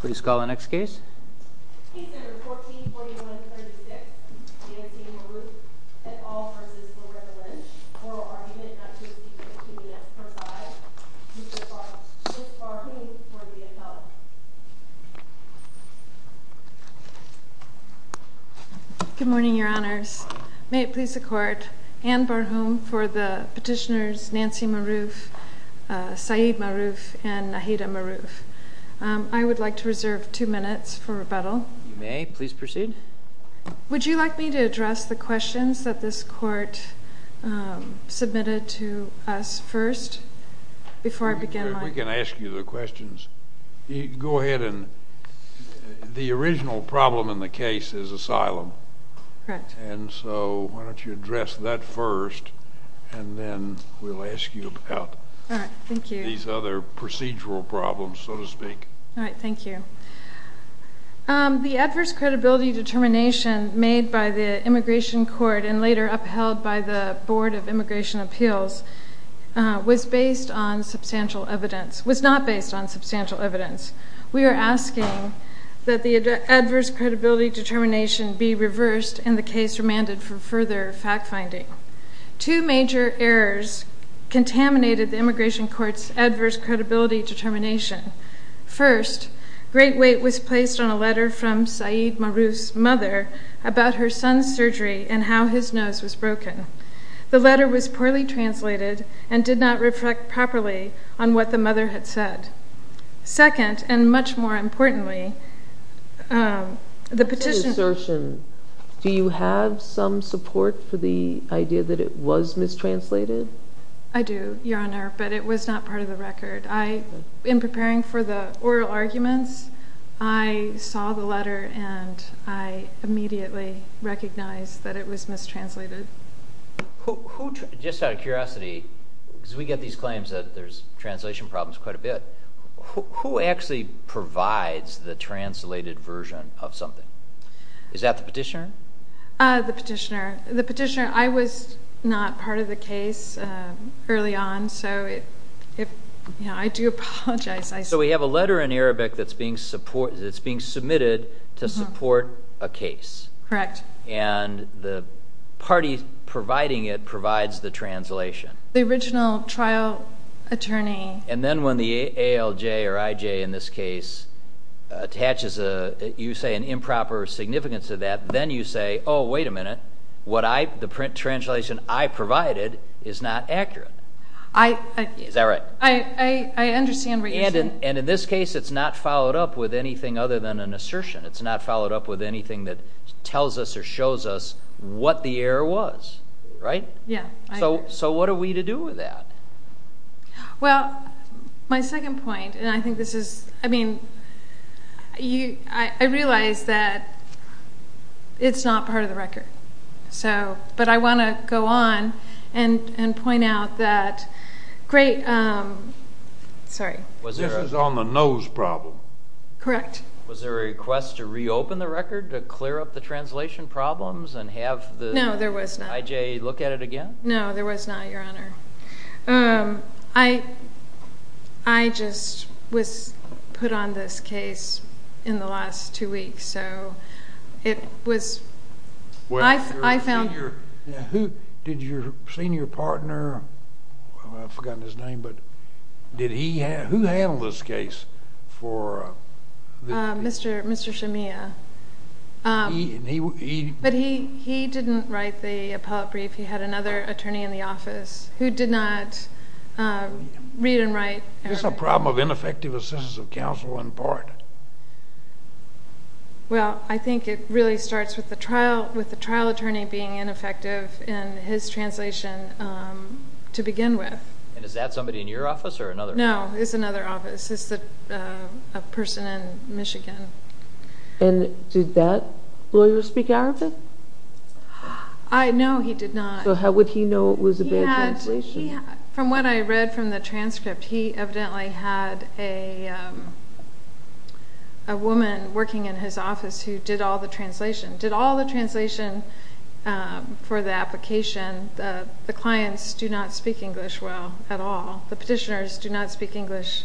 Please call the next case. Case number 1441-36, Nancy Marouf et al. v. Loretta Lynch. Oral argument not to exceed 15 minutes per side. Mr. Barhoun for the appellate. Good morning, your honors. May it please the court. Ann Barhoun for the petitioners Nancy Marouf, Saeed Marouf, and Nahida Marouf. I would like to reserve two minutes for rebuttal. You may. Please proceed. Would you like me to address the questions that this court submitted to us first before I begin mine? We can ask you the questions. Go ahead. The original problem in the case is asylum. Correct. And so why don't you address that first and then we'll ask you about these other procedural problems, so to speak. All right. Thank you. The adverse credibility determination made by the Immigration Court and later upheld by the Board of Immigration Appeals was based on substantial evidence, was not based on substantial evidence. We are asking that the adverse credibility determination be reversed and the case remanded for further fact finding. Two major errors contaminated the Immigration Court's adverse credibility determination. First, great weight was placed on a letter from Saeed Marouf's mother about her son's surgery and how his nose was broken. The letter was poorly translated and did not reflect properly on what the mother had said. Second, and much more importantly, the petition... Do you have some support for the idea that it was mistranslated? I do, Your Honor, but it was not part of the record. In preparing for the oral arguments, I saw the letter and I immediately recognized that it was mistranslated. Just out of curiosity, because we get these claims that there's translation problems quite a bit, who actually provides the translated version of something? Is that the petitioner? The petitioner. I was not part of the case early on, so I do apologize. So we have a letter in Arabic that's being submitted to support a case. Correct. And the party providing it provides the translation. The original trial attorney... And then when the ALJ or IJ in this case attaches, you say, an improper significance of that, then you say, oh, wait a minute, the translation I provided is not accurate. Is that right? I understand what you're saying. And in this case it's not followed up with anything other than an assertion. It's not followed up with anything that tells us or shows us what the error was. Right? Yeah. So what are we to do with that? Well, my second point, and I think this is, I mean, I realize that it's not part of the record. But I want to go on and point out that great... Sorry. This is on the nose problem. Correct. Was there a request to reopen the record to clear up the translation problems and have the IJ look at it again? No, there was not. No, there was not, Your Honor. I just was put on this case in the last two weeks. So it was... Did your senior partner, I've forgotten his name, but did he handle this case for... Mr. Shamia. But he didn't write the appellate brief. He had another attorney in the office who did not read and write. This is a problem of ineffective assistance of counsel in part. Well, I think it really starts with the trial attorney being ineffective in his translation to begin with. And is that somebody in your office or another? No, it's another office. It's a person in Michigan. And did that lawyer speak Arabic? No, he did not. So how would he know it was a bad translation? From what I read from the transcript, he evidently had a woman working in his office who did all the translation. Did all the translation for the application. The clients do not speak English well at all. The petitioners do not speak English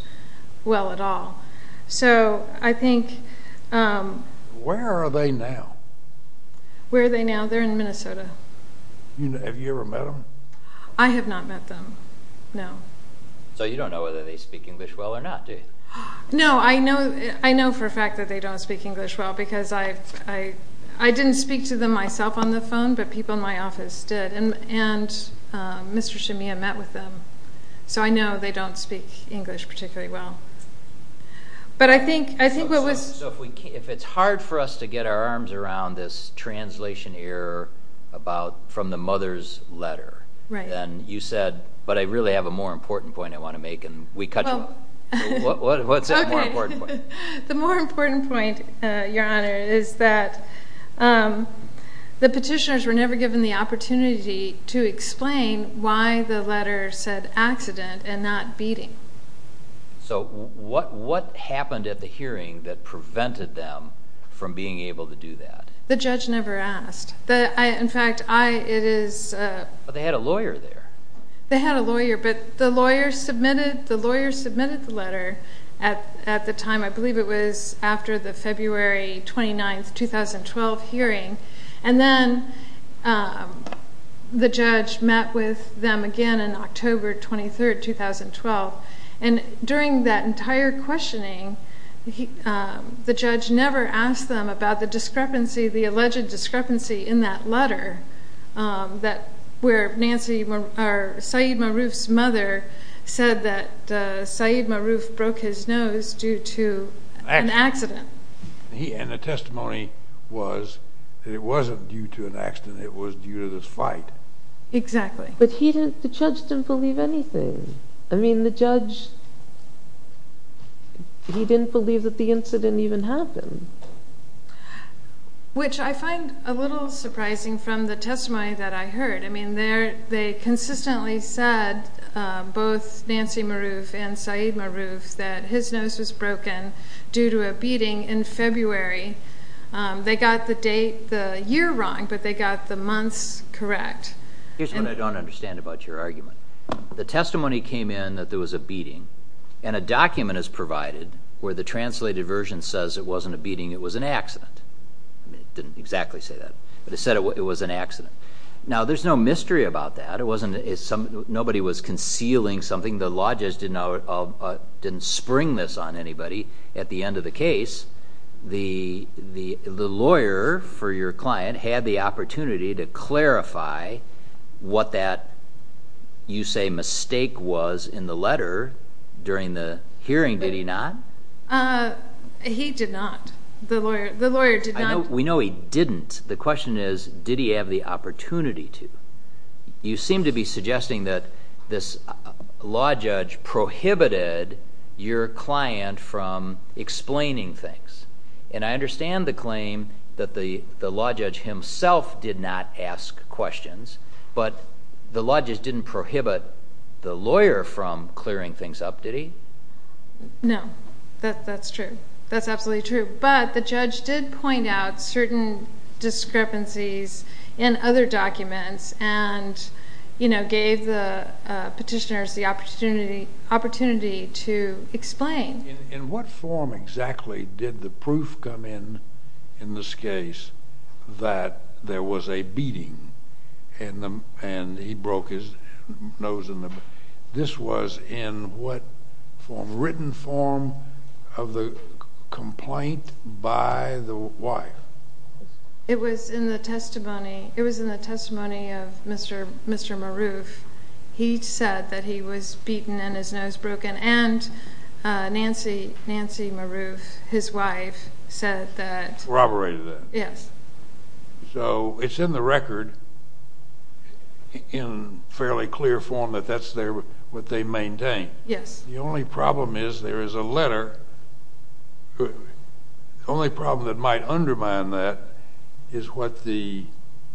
well at all. So I think... Where are they now? Where are they now? They're in Minnesota. Have you ever met them? I have not met them. No. So you don't know whether they speak English well or not, do you? No, I know for a fact that they don't speak English well because I didn't speak to them myself on the phone, but people in my office did. And Mr. Shamia met with them. So I know they don't speak English particularly well. But I think what was... So if it's hard for us to get our arms around this translation error from the mother's letter, then you said, but I really have a more important point I want to make, and we cut you off. What's that more important point? The more important point, Your Honor, is that the petitioners were never given the opportunity to explain why the letter said accident and not beating. So what happened at the hearing that prevented them from being able to do that? The judge never asked. In fact, it is... But they had a lawyer there. They had a lawyer, but the lawyer submitted the letter at the time. I believe it was after the February 29, 2012 hearing. And then the judge met with them again on October 23, 2012. And during that entire questioning, the judge never asked them about the discrepancy, the alleged discrepancy in that letter where Nancy, or Saeed Maroof's mother, said that Saeed Maroof broke his nose due to an accident. And the testimony was that it wasn't due to an accident, it was due to this fight. Exactly. But the judge didn't believe anything. I mean, the judge, he didn't believe that the incident even happened. Which I find a little surprising from the testimony that I heard. I mean, they consistently said, both Nancy Maroof and Saeed Maroof, that his nose was broken due to a beating in February. They got the date the year wrong, but they got the months correct. Here's what I don't understand about your argument. The testimony came in that there was a beating. And a document is provided where the translated version says it wasn't a beating, it was an accident. It didn't exactly say that. But it said it was an accident. Now, there's no mystery about that. Nobody was concealing something. The law judge didn't spring this on anybody. At the end of the case, the lawyer for your client had the opportunity to clarify what that, you say, mistake was in the letter during the hearing. Did he not? He did not. The lawyer did not. We know he didn't. The question is, did he have the opportunity to? You seem to be suggesting that this law judge prohibited your client from explaining things. And I understand the claim that the law judge himself did not ask questions. But the law judge didn't prohibit the lawyer from clearing things up, did he? No. That's true. That's absolutely true. But the judge did point out certain discrepancies in other documents and, you know, gave the petitioners the opportunity to explain. In what form exactly did the proof come in, in this case, that there was a beating and he broke his nose? This was in what form? Written form of the complaint by the wife? It was in the testimony. It was in the testimony of Mr. Maroof. He said that he was beaten and his nose broken, and Nancy Maroof, his wife, said that. Corroborated that. Yes. So it's in the record in fairly clear form that that's what they maintain. Yes. The only problem is there is a letter. The only problem that might undermine that is what the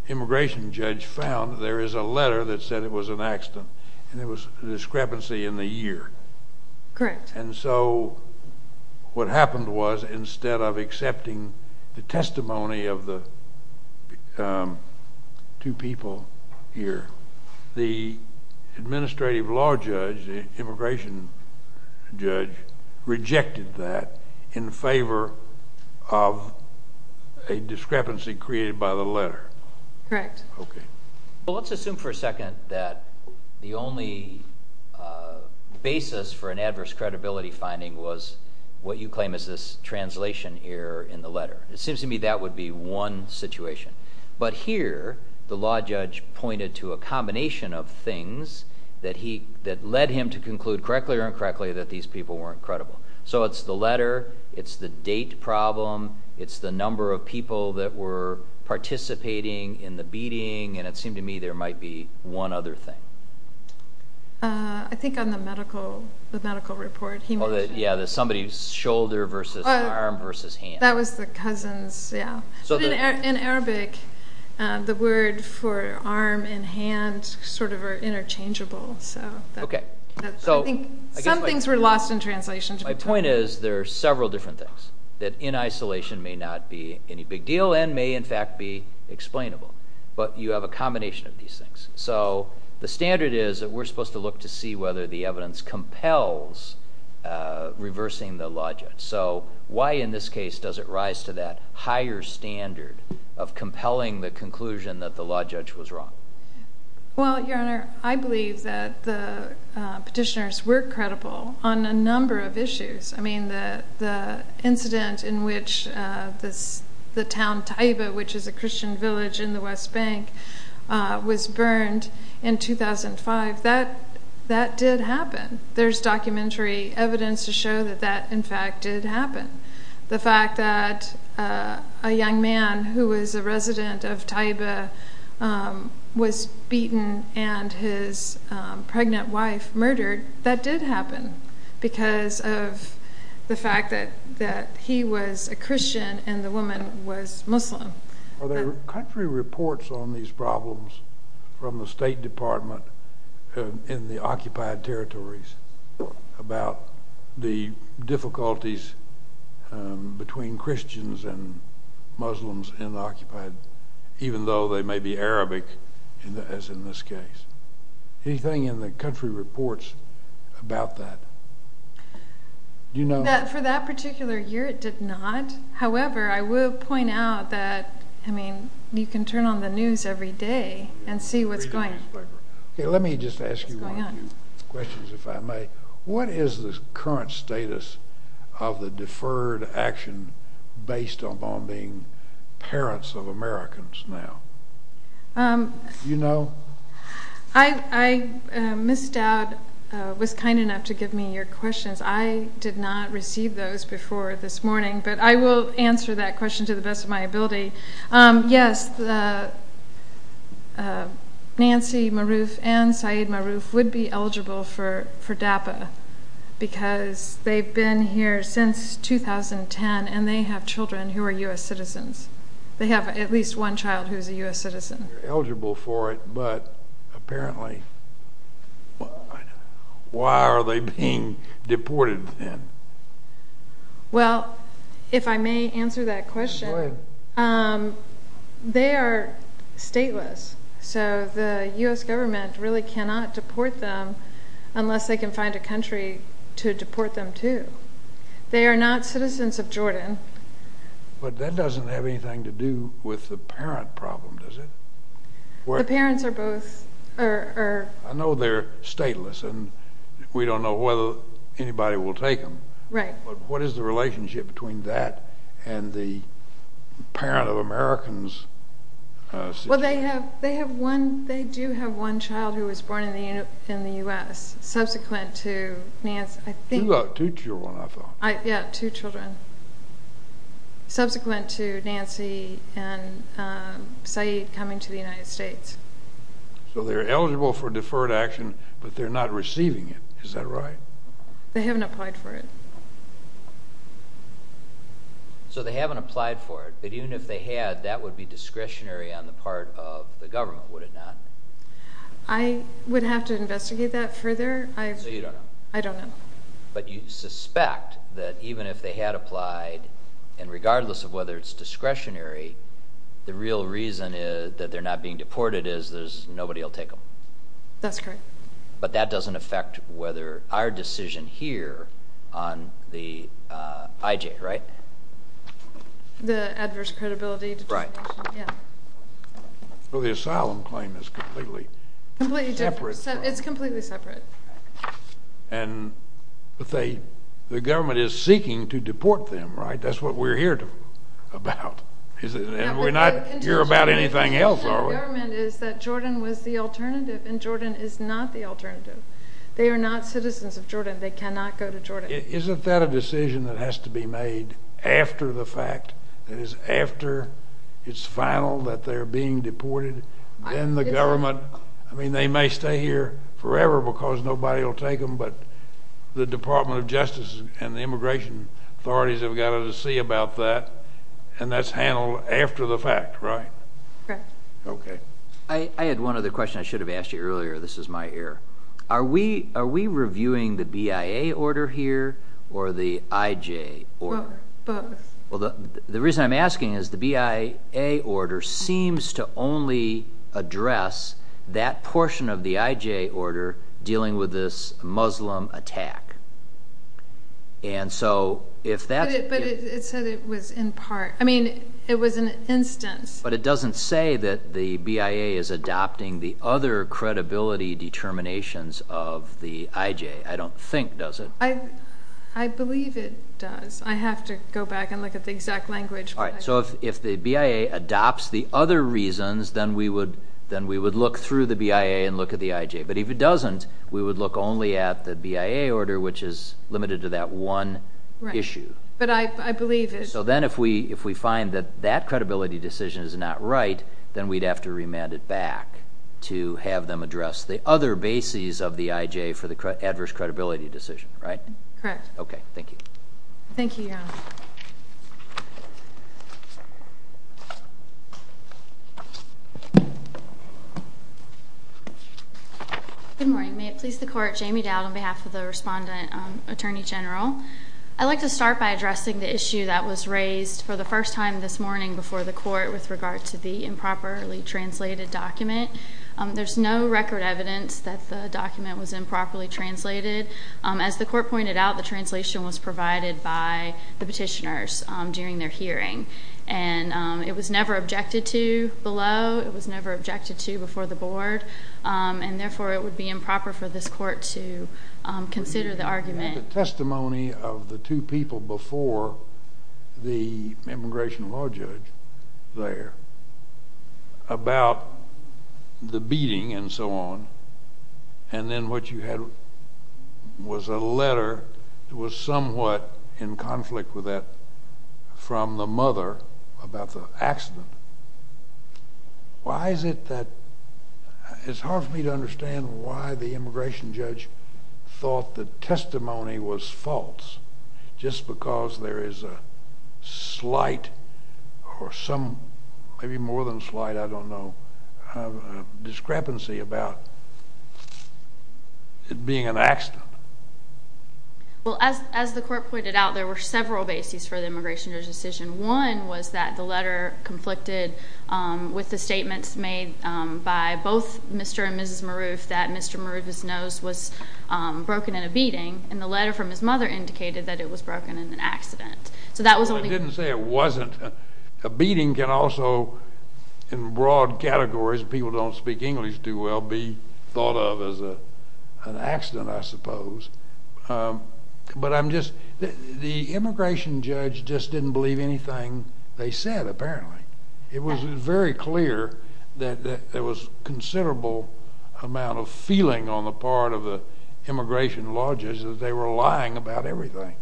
immigration judge found. There is a letter that said it was an accident, and there was a discrepancy in the year. Correct. And so what happened was instead of accepting the testimony of the two people here, the administrative law judge, the immigration judge, rejected that in favor of a discrepancy created by the letter. Correct. Okay. Well, let's assume for a second that the only basis for an adverse credibility finding was what you claim is this translation error in the letter. It seems to me that would be one situation. But here the law judge pointed to a combination of things that led him to conclude correctly or incorrectly that these people weren't credible. So it's the letter. It's the date problem. It's the number of people that were participating in the beating. And it seemed to me there might be one other thing. I think on the medical report he mentioned. Yeah, somebody's shoulder versus arm versus hand. That was the cousins, yeah. In Arabic, the word for arm and hand sort of are interchangeable. Okay. So I think some things were lost in translation. My point is there are several different things that in isolation may not be any big deal and may, in fact, be explainable. But you have a combination of these things. So the standard is that we're supposed to look to see whether the evidence compels reversing the law judge. So why in this case does it rise to that higher standard of compelling the conclusion that the law judge was wrong? Well, Your Honor, I believe that the petitioners were credible on a number of issues. The incident in which the town Taiba, which is a Christian village in the West Bank, was burned in 2005, that did happen. There's documentary evidence to show that that, in fact, did happen. The fact that a young man who was a resident of Taiba was beaten and his pregnant wife murdered, that did happen. Because of the fact that he was a Christian and the woman was Muslim. Are there country reports on these problems from the State Department in the occupied territories about the difficulties between Christians and Muslims in the occupied, even though they may be Arabic, as in this case? Anything in the country reports about that? For that particular year, it did not. However, I will point out that, I mean, you can turn on the news every day and see what's going on. Let me just ask you one or two questions, if I may. What is the current status of the deferred action based upon being parents of Americans now? Do you know? Ms. Dowd was kind enough to give me your questions. I did not receive those before this morning, but I will answer that question to the best of my ability. Yes, Nancy Maroof and Syed Maroof would be eligible for DAPA because they've been here since 2010 and they have children who are U.S. citizens. They have at least one child who is a U.S. citizen. Eligible for it, but apparently, why are they being deported then? Well, if I may answer that question, they are stateless, so the U.S. government really cannot deport them unless they can find a country to deport them to. They are not citizens of Jordan. But that doesn't have anything to do with the parent problem, does it? The parents are both. I know they're stateless and we don't know whether anybody will take them. Right. But what is the relationship between that and the parent of Americans? Well, they do have one child who was born in the U.S. subsequent to Nancy. You've got two children, I thought. Yeah, two children subsequent to Nancy and Syed coming to the United States. So they're eligible for deferred action, but they're not receiving it, is that right? They haven't applied for it. So they haven't applied for it, but even if they had, that would be discretionary on the part of the government, would it not? I would have to investigate that further. So you don't know? I don't know. But you suspect that even if they had applied, and regardless of whether it's discretionary, the real reason that they're not being deported is nobody will take them. That's correct. But that doesn't affect whether our decision here on the IJ, right? The adverse credibility determination. Right. Well, the asylum claim is completely separate. It's completely separate. And the government is seeking to deport them, right? That's what we're here about. And we're not here about anything else, are we? The intention of the government is that Jordan was the alternative, and Jordan is not the alternative. They are not citizens of Jordan. They cannot go to Jordan. Isn't that a decision that has to be made after the fact, that is after it's final that they're being deported, then the government, I mean, they may stay here forever because nobody will take them, but the Department of Justice and the immigration authorities have got to see about that, and that's handled after the fact, right? Correct. Okay. I had one other question I should have asked you earlier. This is my error. Are we reviewing the BIA order here or the IJ order? Both. Well, the reason I'm asking is the BIA order seems to only address that portion of the IJ order dealing with this Muslim attack. But it said it was in part. I mean, it was an instance. But it doesn't say that the BIA is adopting the other credibility determinations of the IJ, I don't think, does it? I believe it does. I have to go back and look at the exact language. All right. So if the BIA adopts the other reasons, then we would look through the BIA and look at the IJ. But if it doesn't, we would look only at the BIA order, which is limited to that one issue. Right. But I believe it. So then if we find that that credibility decision is not right, then we'd have to remand it back to have them address the other bases of the IJ for the adverse credibility decision, right? Correct. Okay. Thank you. Thank you, Your Honor. Good morning. May it please the Court, Jamie Dowd on behalf of the Respondent Attorney General. I'd like to start by addressing the issue that was raised for the first time this morning before the Court with regard to the improperly translated document. There's no record evidence that the document was improperly translated. As the Court pointed out, the translation was provided by the petitioners during their hearing. And it was never objected to below. It was never objected to before the Board. And therefore, it would be improper for this Court to consider the argument. The testimony of the two people before the immigration law judge there about the beating and so on, and then what you had was a letter that was somewhat in conflict with that from the mother about the accident. Why is it that it's hard for me to understand why the immigration judge thought the testimony was false, just because there is a slight or some maybe more than slight, I don't know, discrepancy about it being an accident? Well, as the Court pointed out, there were several bases for the immigration judge's decision. One was that the letter conflicted with the statements made by both Mr. and Mrs. Maroof that Mr. Maroof's nose was broken in a beating, and the letter from his mother indicated that it was broken in an accident. So that was only— I didn't say it wasn't. A beating can also, in broad categories, people don't speak English too well, be thought of as an accident, I suppose. But I'm just—the immigration judge just didn't believe anything they said, apparently. It was very clear that there was considerable amount of feeling on the part of the immigration law judge that they were lying about everything.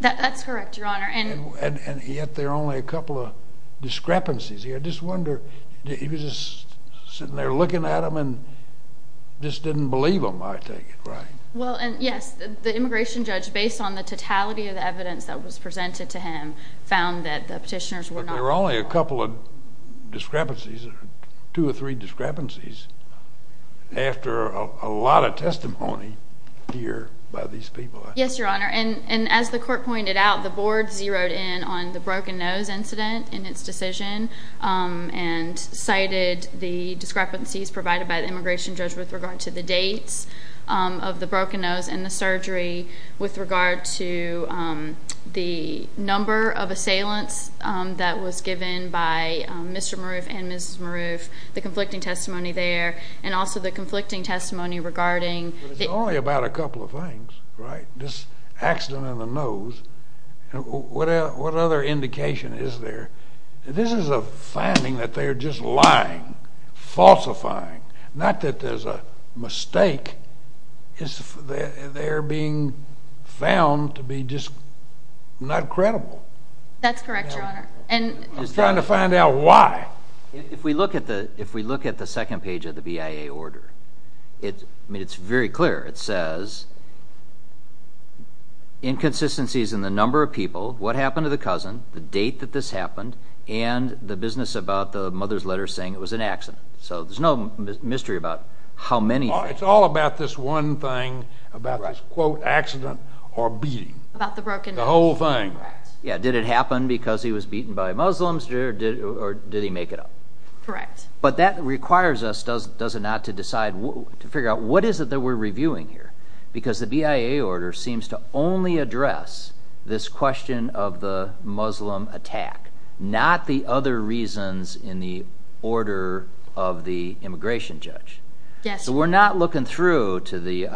That's correct, Your Honor. And yet there are only a couple of discrepancies here. I just wonder—he was just sitting there looking at them and just didn't believe them, I take it, right? Well, yes. The immigration judge, based on the totality of the evidence that was presented to him, found that the petitioners were not— But there were only a couple of discrepancies, two or three discrepancies, after a lot of testimony here by these people. Yes, Your Honor. And as the court pointed out, the board zeroed in on the broken nose incident in its decision and cited the discrepancies provided by the immigration judge with regard to the dates of the broken nose and the surgery, with regard to the number of assailants that was given by Mr. Maroof and Mrs. Maroof, the conflicting testimony there, and also the conflicting testimony regarding— What other indication is there? This is a finding that they're just lying, falsifying, not that there's a mistake. They're being found to be just not credible. That's correct, Your Honor. I'm trying to find out why. If we look at the second page of the BIA order, it's very clear. It says inconsistencies in the number of people, what happened to the cousin, the date that this happened, and the business about the mother's letter saying it was an accident. So there's no mystery about how many— It's all about this one thing, about this, quote, accident or beating. About the broken nose. The whole thing. Yeah, did it happen because he was beaten by Muslims or did he make it up? Correct. But that requires us, does it not, to decide, to figure out what is it that we're reviewing here? Because the BIA order seems to only address this question of the Muslim attack, not the other reasons in the order of the immigration judge. Yes. So we're not looking through to the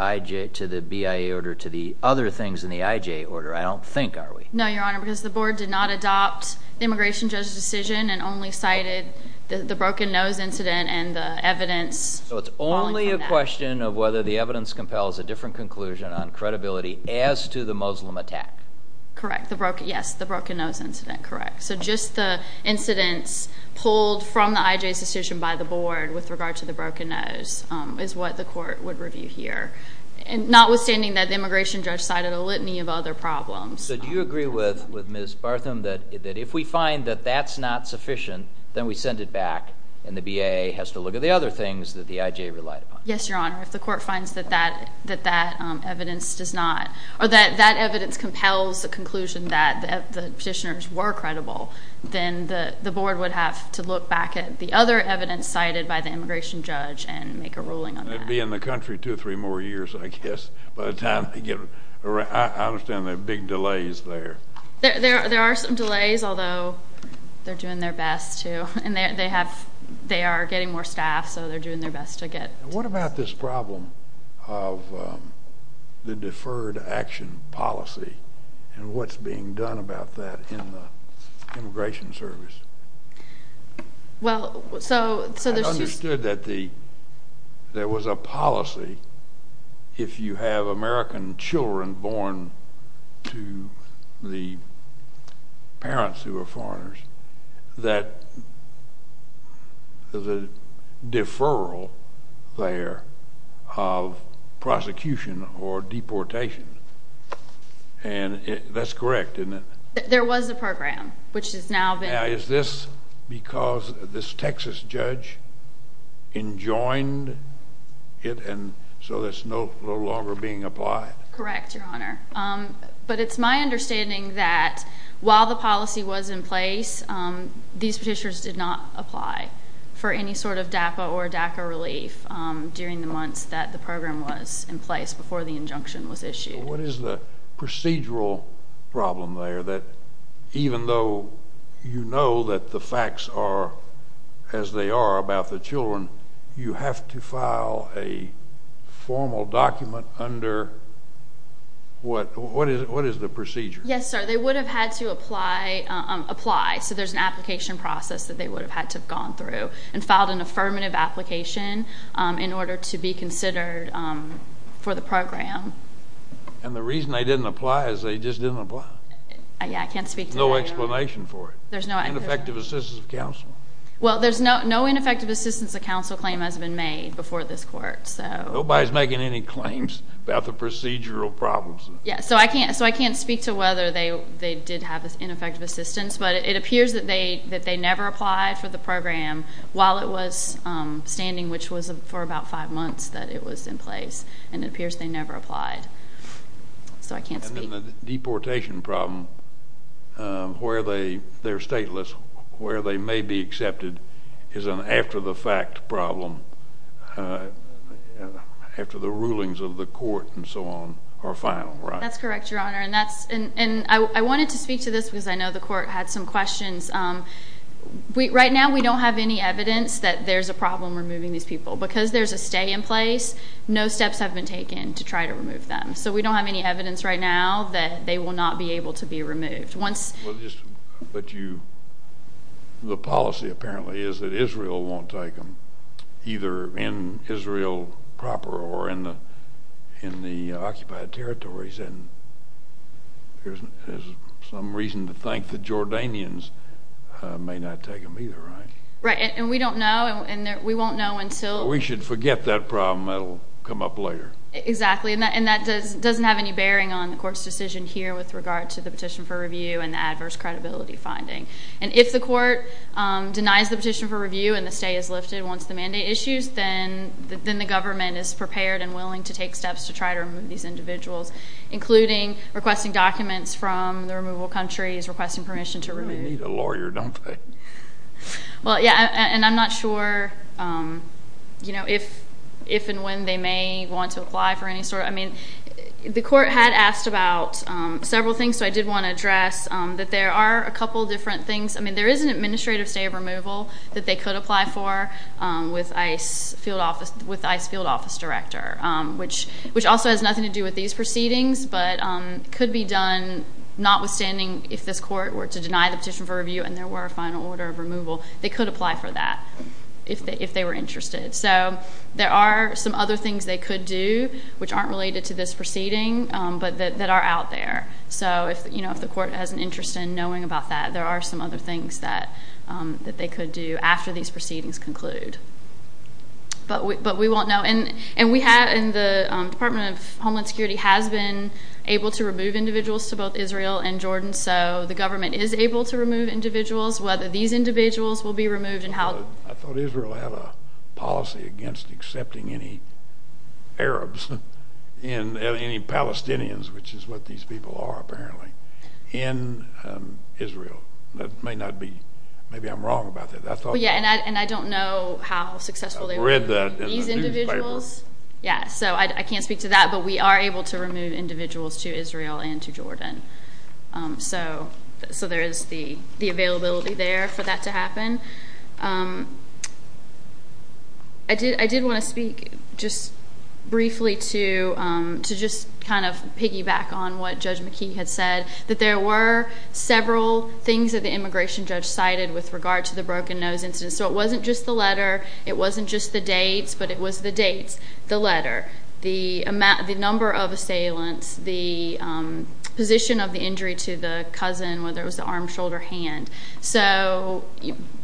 BIA order to the other things in the IJ order, I don't think, are we? No, Your Honor, because the board did not adopt the immigration judge's decision and only cited the broken nose incident and the evidence. So it's only a question of whether the evidence compels a different conclusion on credibility as to the Muslim attack. Correct. Yes, the broken nose incident, correct. So just the incidents pulled from the IJ's decision by the board with regard to the broken nose is what the court would review here, notwithstanding that the immigration judge cited a litany of other problems. So do you agree with Ms. Bartham that if we find that that's not sufficient, then we send it back and the BIA has to look at the other things that the IJ relied upon? Yes, Your Honor. If the court finds that that evidence does not or that that evidence compels a conclusion that the petitioners were credible, then the board would have to look back at the other evidence cited by the immigration judge and make a ruling on that. They'd be in the country two or three more years, I guess, by the time they get around. I understand there are big delays there. There are some delays, although they're doing their best, too, and they are getting more staff, so they're doing their best to get. What about this problem of the deferred action policy and what's being done about that in the Immigration Service? I understood that there was a policy, if you have American children born to the parents who are foreigners, that there's a deferral there of prosecution or deportation, and that's correct, isn't it? There was a program, which has now been— Now, is this because this Texas judge enjoined it and so it's no longer being applied? Correct, Your Honor, but it's my understanding that while the policy was in place, these petitioners did not apply for any sort of DAPA or DACA relief during the months that the program was in place before the injunction was issued. What is the procedural problem there that even though you know that the facts are as they are about the children, you have to file a formal document under—what is the procedure? Yes, sir, they would have had to apply, so there's an application process that they would have had to have gone through and filed an affirmative application in order to be considered for the program. And the reason they didn't apply is they just didn't apply. Yes, I can't speak to that, Your Honor. There's no explanation for it. There's no— Ineffective assistance of counsel. Well, there's no ineffective assistance of counsel claim has been made before this court, so— Nobody's making any claims about the procedural problems. Yes, so I can't speak to whether they did have ineffective assistance, but it appears that they never applied for the program while it was standing, which was for about five months that it was in place, and it appears they never applied, so I can't speak. And then the deportation problem, where they're stateless, where they may be accepted, is an after-the-fact problem after the rulings of the court and so on are final, right? That's correct, Your Honor, and that's— And I wanted to speak to this because I know the court had some questions. Right now, we don't have any evidence that there's a problem removing these people. Because there's a stay in place, no steps have been taken to try to remove them, so we don't have any evidence right now that they will not be able to be removed. Once— But you—the policy apparently is that Israel won't take them, either in Israel proper or in the occupied territories, and there's some reason to think the Jordanians may not take them, either, right? Right, and we don't know, and we won't know until— We should forget that problem. That will come up later. Exactly, and that doesn't have any bearing on the court's decision here with regard to the petition for review and the adverse credibility finding. And if the court denies the petition for review and the stay is lifted once the mandate issues, then the government is prepared and willing to take steps to try to remove these individuals, including requesting documents from the removal countries, requesting permission to remove— You really need a lawyer, don't they? Well, yeah, and I'm not sure, you know, if and when they may want to apply for any sort of— I mean, the court had asked about several things, so I did want to address that there are a couple different things. I mean, there is an administrative stay of removal that they could apply for with ICE field office director, which also has nothing to do with these proceedings, but could be done notwithstanding if this court were to deny the petition for review and there were a final order of removal, they could apply for that if they were interested. So there are some other things they could do, which aren't related to this proceeding, but that are out there. So, you know, if the court has an interest in knowing about that, there are some other things that they could do after these proceedings conclude. But we won't know. And the Department of Homeland Security has been able to remove individuals to both Israel and Jordan, so the government is able to remove individuals, whether these individuals will be removed and how— I thought Israel had a policy against accepting any Arabs and any Palestinians, which is what these people are apparently, in Israel. That may not be—maybe I'm wrong about that. I thought— Yeah, and I don't know how successful they were— I read that in the newspaper. —with these individuals. Yeah, so I can't speak to that, but we are able to remove individuals to Israel and to Jordan. So there is the availability there for that to happen. I did want to speak just briefly to just kind of piggyback on what Judge McKee had said, that there were several things that the immigration judge cited with regard to the Broken Nose incident. So it wasn't just the letter. It wasn't just the dates, but it was the dates, the letter, the number of assailants, the position of the injury to the cousin, whether it was the arm, shoulder, hand. So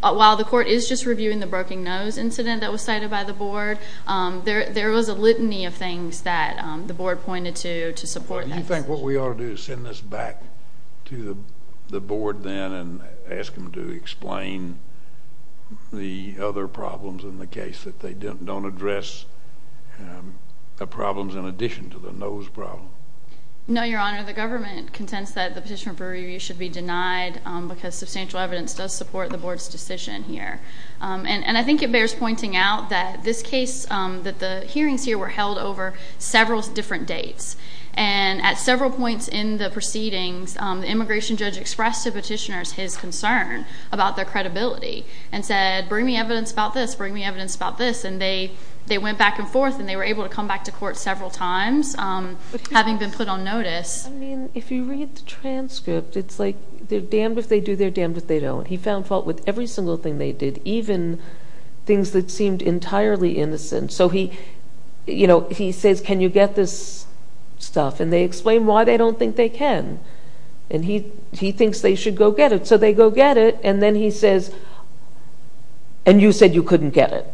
while the court is just reviewing the Broken Nose incident that was cited by the board, there was a litany of things that the board pointed to to support that. Do you think what we ought to do is send this back to the board then and ask them to explain the other problems in the case, that they don't address the problems in addition to the nose problem? No, Your Honor. The government contends that the petition for review should be denied because substantial evidence does support the board's decision here. And I think it bears pointing out that this case, that the hearings here were held over several different dates. And at several points in the proceedings, the immigration judge expressed to petitioners his concern about their credibility and said, bring me evidence about this, bring me evidence about this. And they went back and forth, and they were able to come back to court several times, having been put on notice. I mean, if you read the transcript, it's like they're damned if they do, they're damned if they don't. He found fault with every single thing they did, even things that seemed entirely innocent. So he says, can you get this stuff? And they explain why they don't think they can. And he thinks they should go get it. So they go get it, and then he says, and you said you couldn't get it.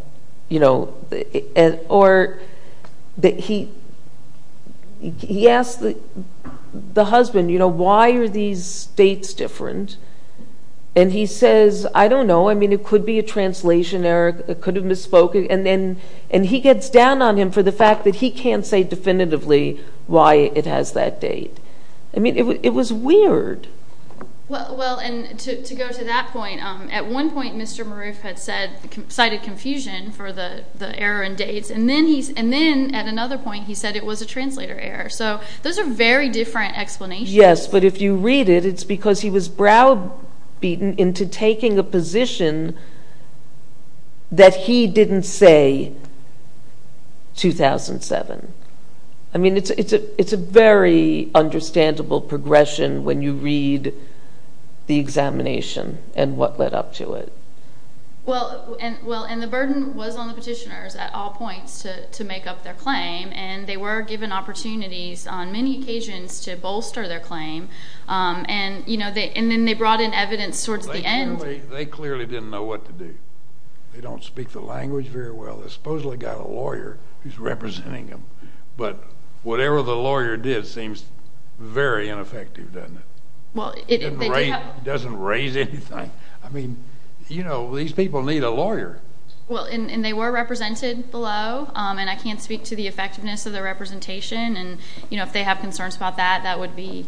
Or he asked the husband, why are these dates different? And he says, I don't know, I mean, it could be a translation error, it could have misspoken. And he gets down on him for the fact that he can't say definitively why it has that date. I mean, it was weird. Well, and to go to that point, at one point Mr. Maroof had cited confusion for the error in dates, and then at another point he said it was a translator error. So those are very different explanations. Yes, but if you read it, it's because he was browbeaten into taking a position that he didn't say 2007. I mean, it's a very understandable progression when you read the examination and what led up to it. Well, and the burden was on the petitioners at all points to make up their claim, and they were given opportunities on many occasions to bolster their claim, and then they brought in evidence towards the end. They clearly didn't know what to do. They don't speak the language very well. They supposedly got a lawyer who's representing them. But whatever the lawyer did seems very ineffective, doesn't it? It doesn't raise anything. I mean, you know, these people need a lawyer. Well, and they were represented below, and I can't speak to the effectiveness of their representation. And, you know, if they have concerns about that, that would be,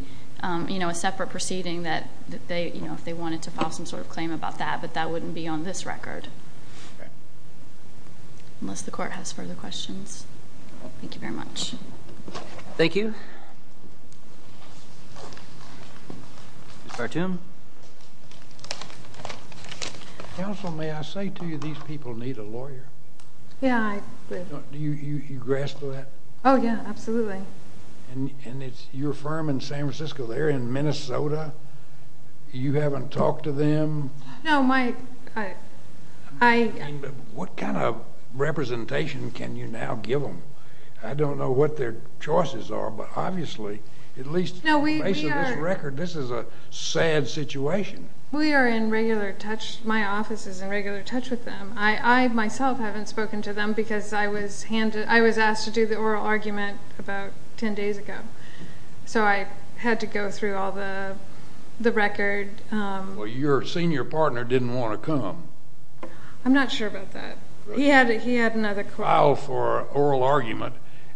you know, a separate proceeding if they wanted to file some sort of claim about that. But that wouldn't be on this record unless the court has further questions. Thank you very much. Thank you. Mr. Tim. Counsel, may I say to you these people need a lawyer? Yeah, I do. Do you grasp that? Oh, yeah, absolutely. And it's your firm in San Francisco. They're in Minnesota. You haven't talked to them. No, my, I, I. I mean, what kind of representation can you now give them? I don't know what their choices are, but obviously at least in the face of this record, this is a sad situation. We are in regular touch. My office is in regular touch with them. I myself haven't spoken to them because I was asked to do the oral argument about 10 days ago. So I had to go through all the record. Well, your senior partner didn't want to come. I'm not sure about that. He had another court. oral argument,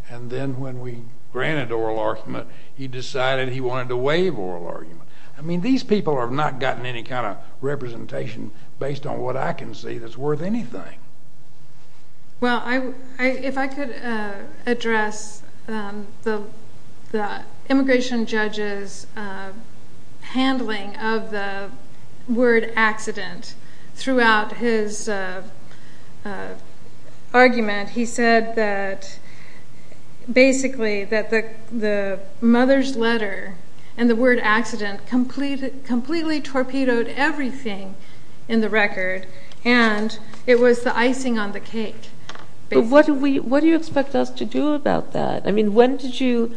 and then when we granted oral argument, he decided he wanted to waive oral argument. I mean, these people have not gotten any kind of representation based on what I can see that's worth anything. Well, if I could address the immigration judge's handling of the word accident throughout his argument. He said that basically that the mother's letter and the word accident completely torpedoed everything in the record. And it was the icing on the cake. But what do you expect us to do about that? I mean, when did you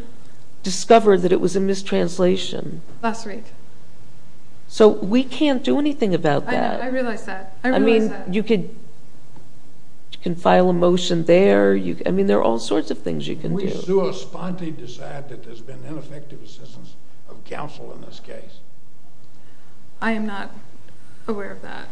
discover that it was a mistranslation? Last week. So we can't do anything about that. I realize that. I realize that. I mean, you can file a motion there. I mean, there are all sorts of things you can do. We sooespontly decide that there's been ineffective assistance of counsel in this case. I am not aware of that.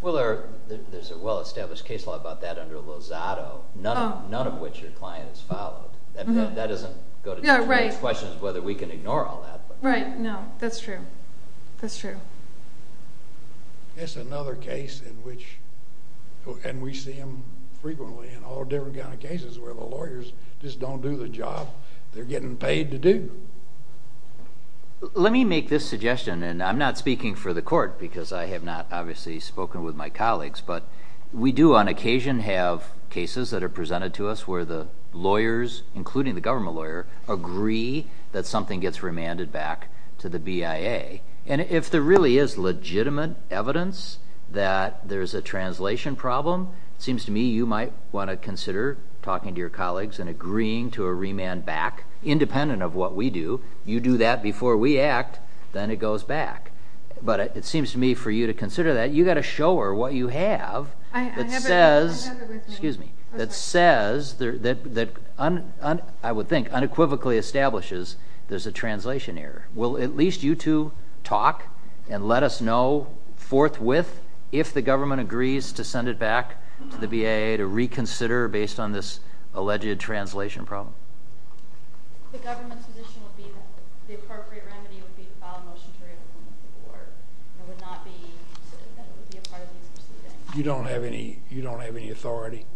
Well, there's a well-established case law about that under Lozado, none of which your client has filed. That doesn't go to the question of whether we can ignore all that. Right. No, that's true. That's true. It's another case in which, and we see them frequently in all different kinds of cases where the lawyers just don't do the job they're getting paid to do. Let me make this suggestion, and I'm not speaking for the court because I have not obviously spoken with my colleagues, but we do on occasion have cases that are presented to us where the lawyers, including the government lawyer, agree that something gets remanded back to the BIA. And if there really is legitimate evidence that there's a translation problem, it seems to me you might want to consider talking to your colleagues and agreeing to a remand back, independent of what we do. You do that before we act, then it goes back. But it seems to me for you to consider that, you've got to show her what you have that says, excuse me, that says, that I would think unequivocally establishes there's a translation error. Will at least you two talk and let us know forthwith if the government agrees to send it back to the BIA to reconsider based on this alleged translation problem. The government's position would be that the appropriate remedy would be to file a motion to remove it from the court. It would not be a part of these proceedings. You don't have any authority?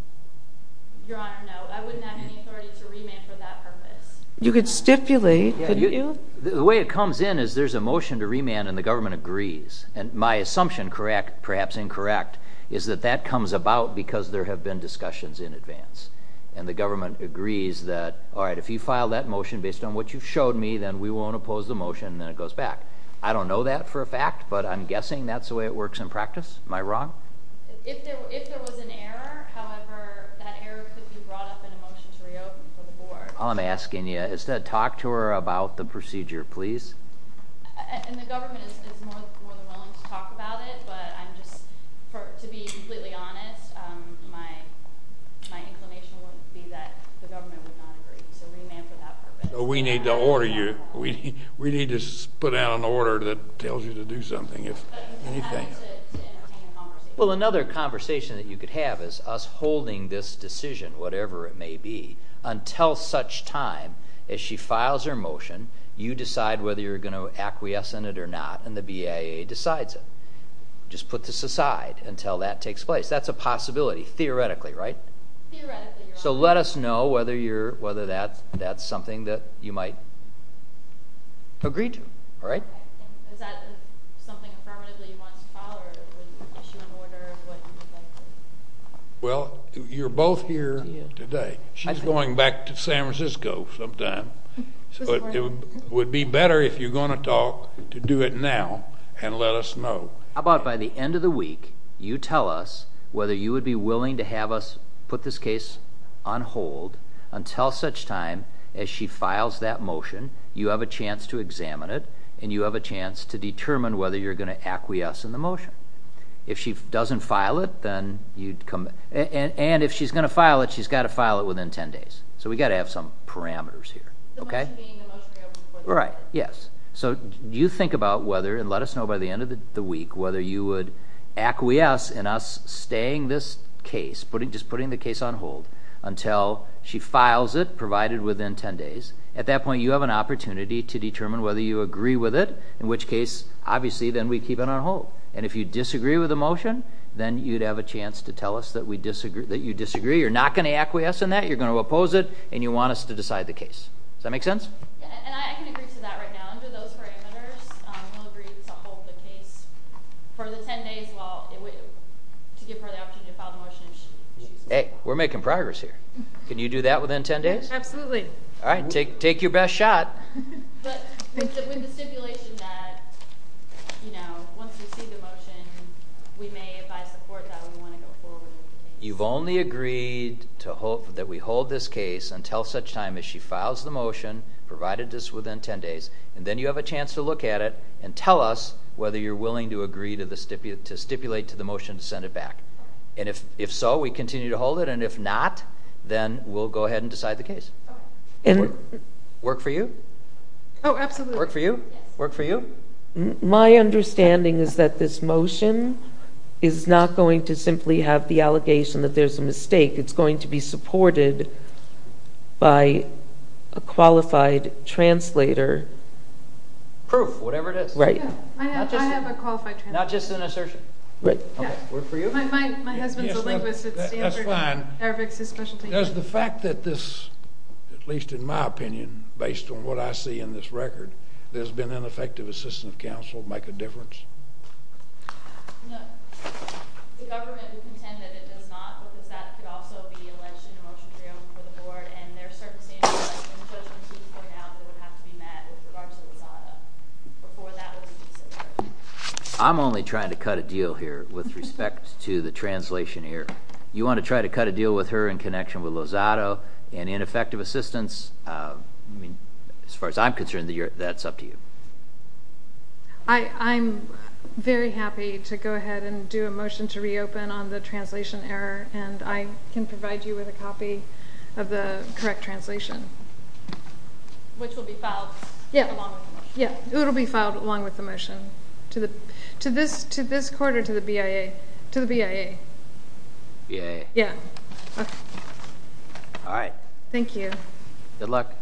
Your Honor, no. I wouldn't have any authority to remand for that purpose. You could stipulate. The way it comes in is there's a motion to remand and the government agrees. And my assumption, correct, perhaps incorrect, is that that comes about because there have been discussions in advance. And the government agrees that, all right, if you file that motion based on what you showed me, then we won't oppose the motion and then it goes back. I don't know that for a fact, but I'm guessing that's the way it works in practice. Am I wrong? If there was an error, however, that error could be brought up in a motion to reopen for the board. All I'm asking you is to talk to her about the procedure, please. And the government is more than willing to talk about it. But I'm just, to be completely honest, my inclination would be that the government would not agree. So remand for that purpose. We need to order you. We need to put out an order that tells you to do something, if anything. Well, another conversation that you could have is us holding this decision, whatever it may be, until such time as she files her motion, you decide whether you're going to acquiesce in it or not, and the BIA decides it. Just put this aside until that takes place. That's a possibility, theoretically, right? Theoretically, you're right. So let us know whether that's something that you might agree to, all right? Is that something affirmatively you want us to follow, or would you issue an order of what you would like to do? Well, you're both here today. She's going back to San Francisco sometime. So it would be better if you're going to talk to do it now and let us know. How about by the end of the week, you tell us whether you would be willing to have us put this case on hold until such time as she files that motion, you have a chance to examine it, and you have a chance to determine whether you're going to acquiesce in the motion. If she doesn't file it, then you'd come back. And if she's going to file it, she's got to file it within 10 days. So we've got to have some parameters here, okay? The motion being the motion we have before the court. Right, yes. So you think about whether and let us know by the end of the week whether you would acquiesce in us staying this case, just putting the case on hold, until she files it, provided within 10 days. At that point, you have an opportunity to determine whether you agree with it, in which case, obviously, then we keep it on hold. And if you disagree with the motion, then you'd have a chance to tell us that you disagree. You're not going to acquiesce in that. You're going to oppose it, and you want us to decide the case. Does that make sense? And I can agree to that right now. Under those parameters, we'll agree to hold the case for the 10 days to give her the opportunity to file the motion if she chooses to. Hey, we're making progress here. Can you do that within 10 days? Absolutely. All right, take your best shot. But with the stipulation that, you know, once we see the motion, we may advise the court that we want to go forward with the case. You've only agreed that we hold this case until such time as she files the motion, provided it's within 10 days, and then you have a chance to look at it and tell us whether you're willing to agree to stipulate to the motion to send it back. And if so, we continue to hold it, and if not, then we'll go ahead and decide the case. Work for you? Oh, absolutely. Work for you? Yes. Work for you? My understanding is that this motion is not going to simply have the allegation that there's a mistake. It's going to be supported by a qualified translator. Proof, whatever it is. Right. I have a qualified translator. Not just an assertion? Right. Work for you? My husband's a linguist at Stanford. That's fine. Does the fact that this, at least in my opinion, based on what I see in this record, there's been ineffective assistance of counsel make a difference? No. The government would contend that if it's not, that could also be alleged in a motion to be held before the board, and there are certain standards and judgments we've put out that would have to be met with regards to this item before that was considered. I'm only trying to cut a deal here with respect to the translation here. You want to try to cut a deal with her in connection with Lozado and ineffective assistance? As far as I'm concerned, that's up to you. I'm very happy to go ahead and do a motion to reopen on the translation error, and I can provide you with a copy of the correct translation. Which will be filed along with the motion. To this court or to the BIA? To the BIA. BIA. Yeah. All right. Thank you. Good luck.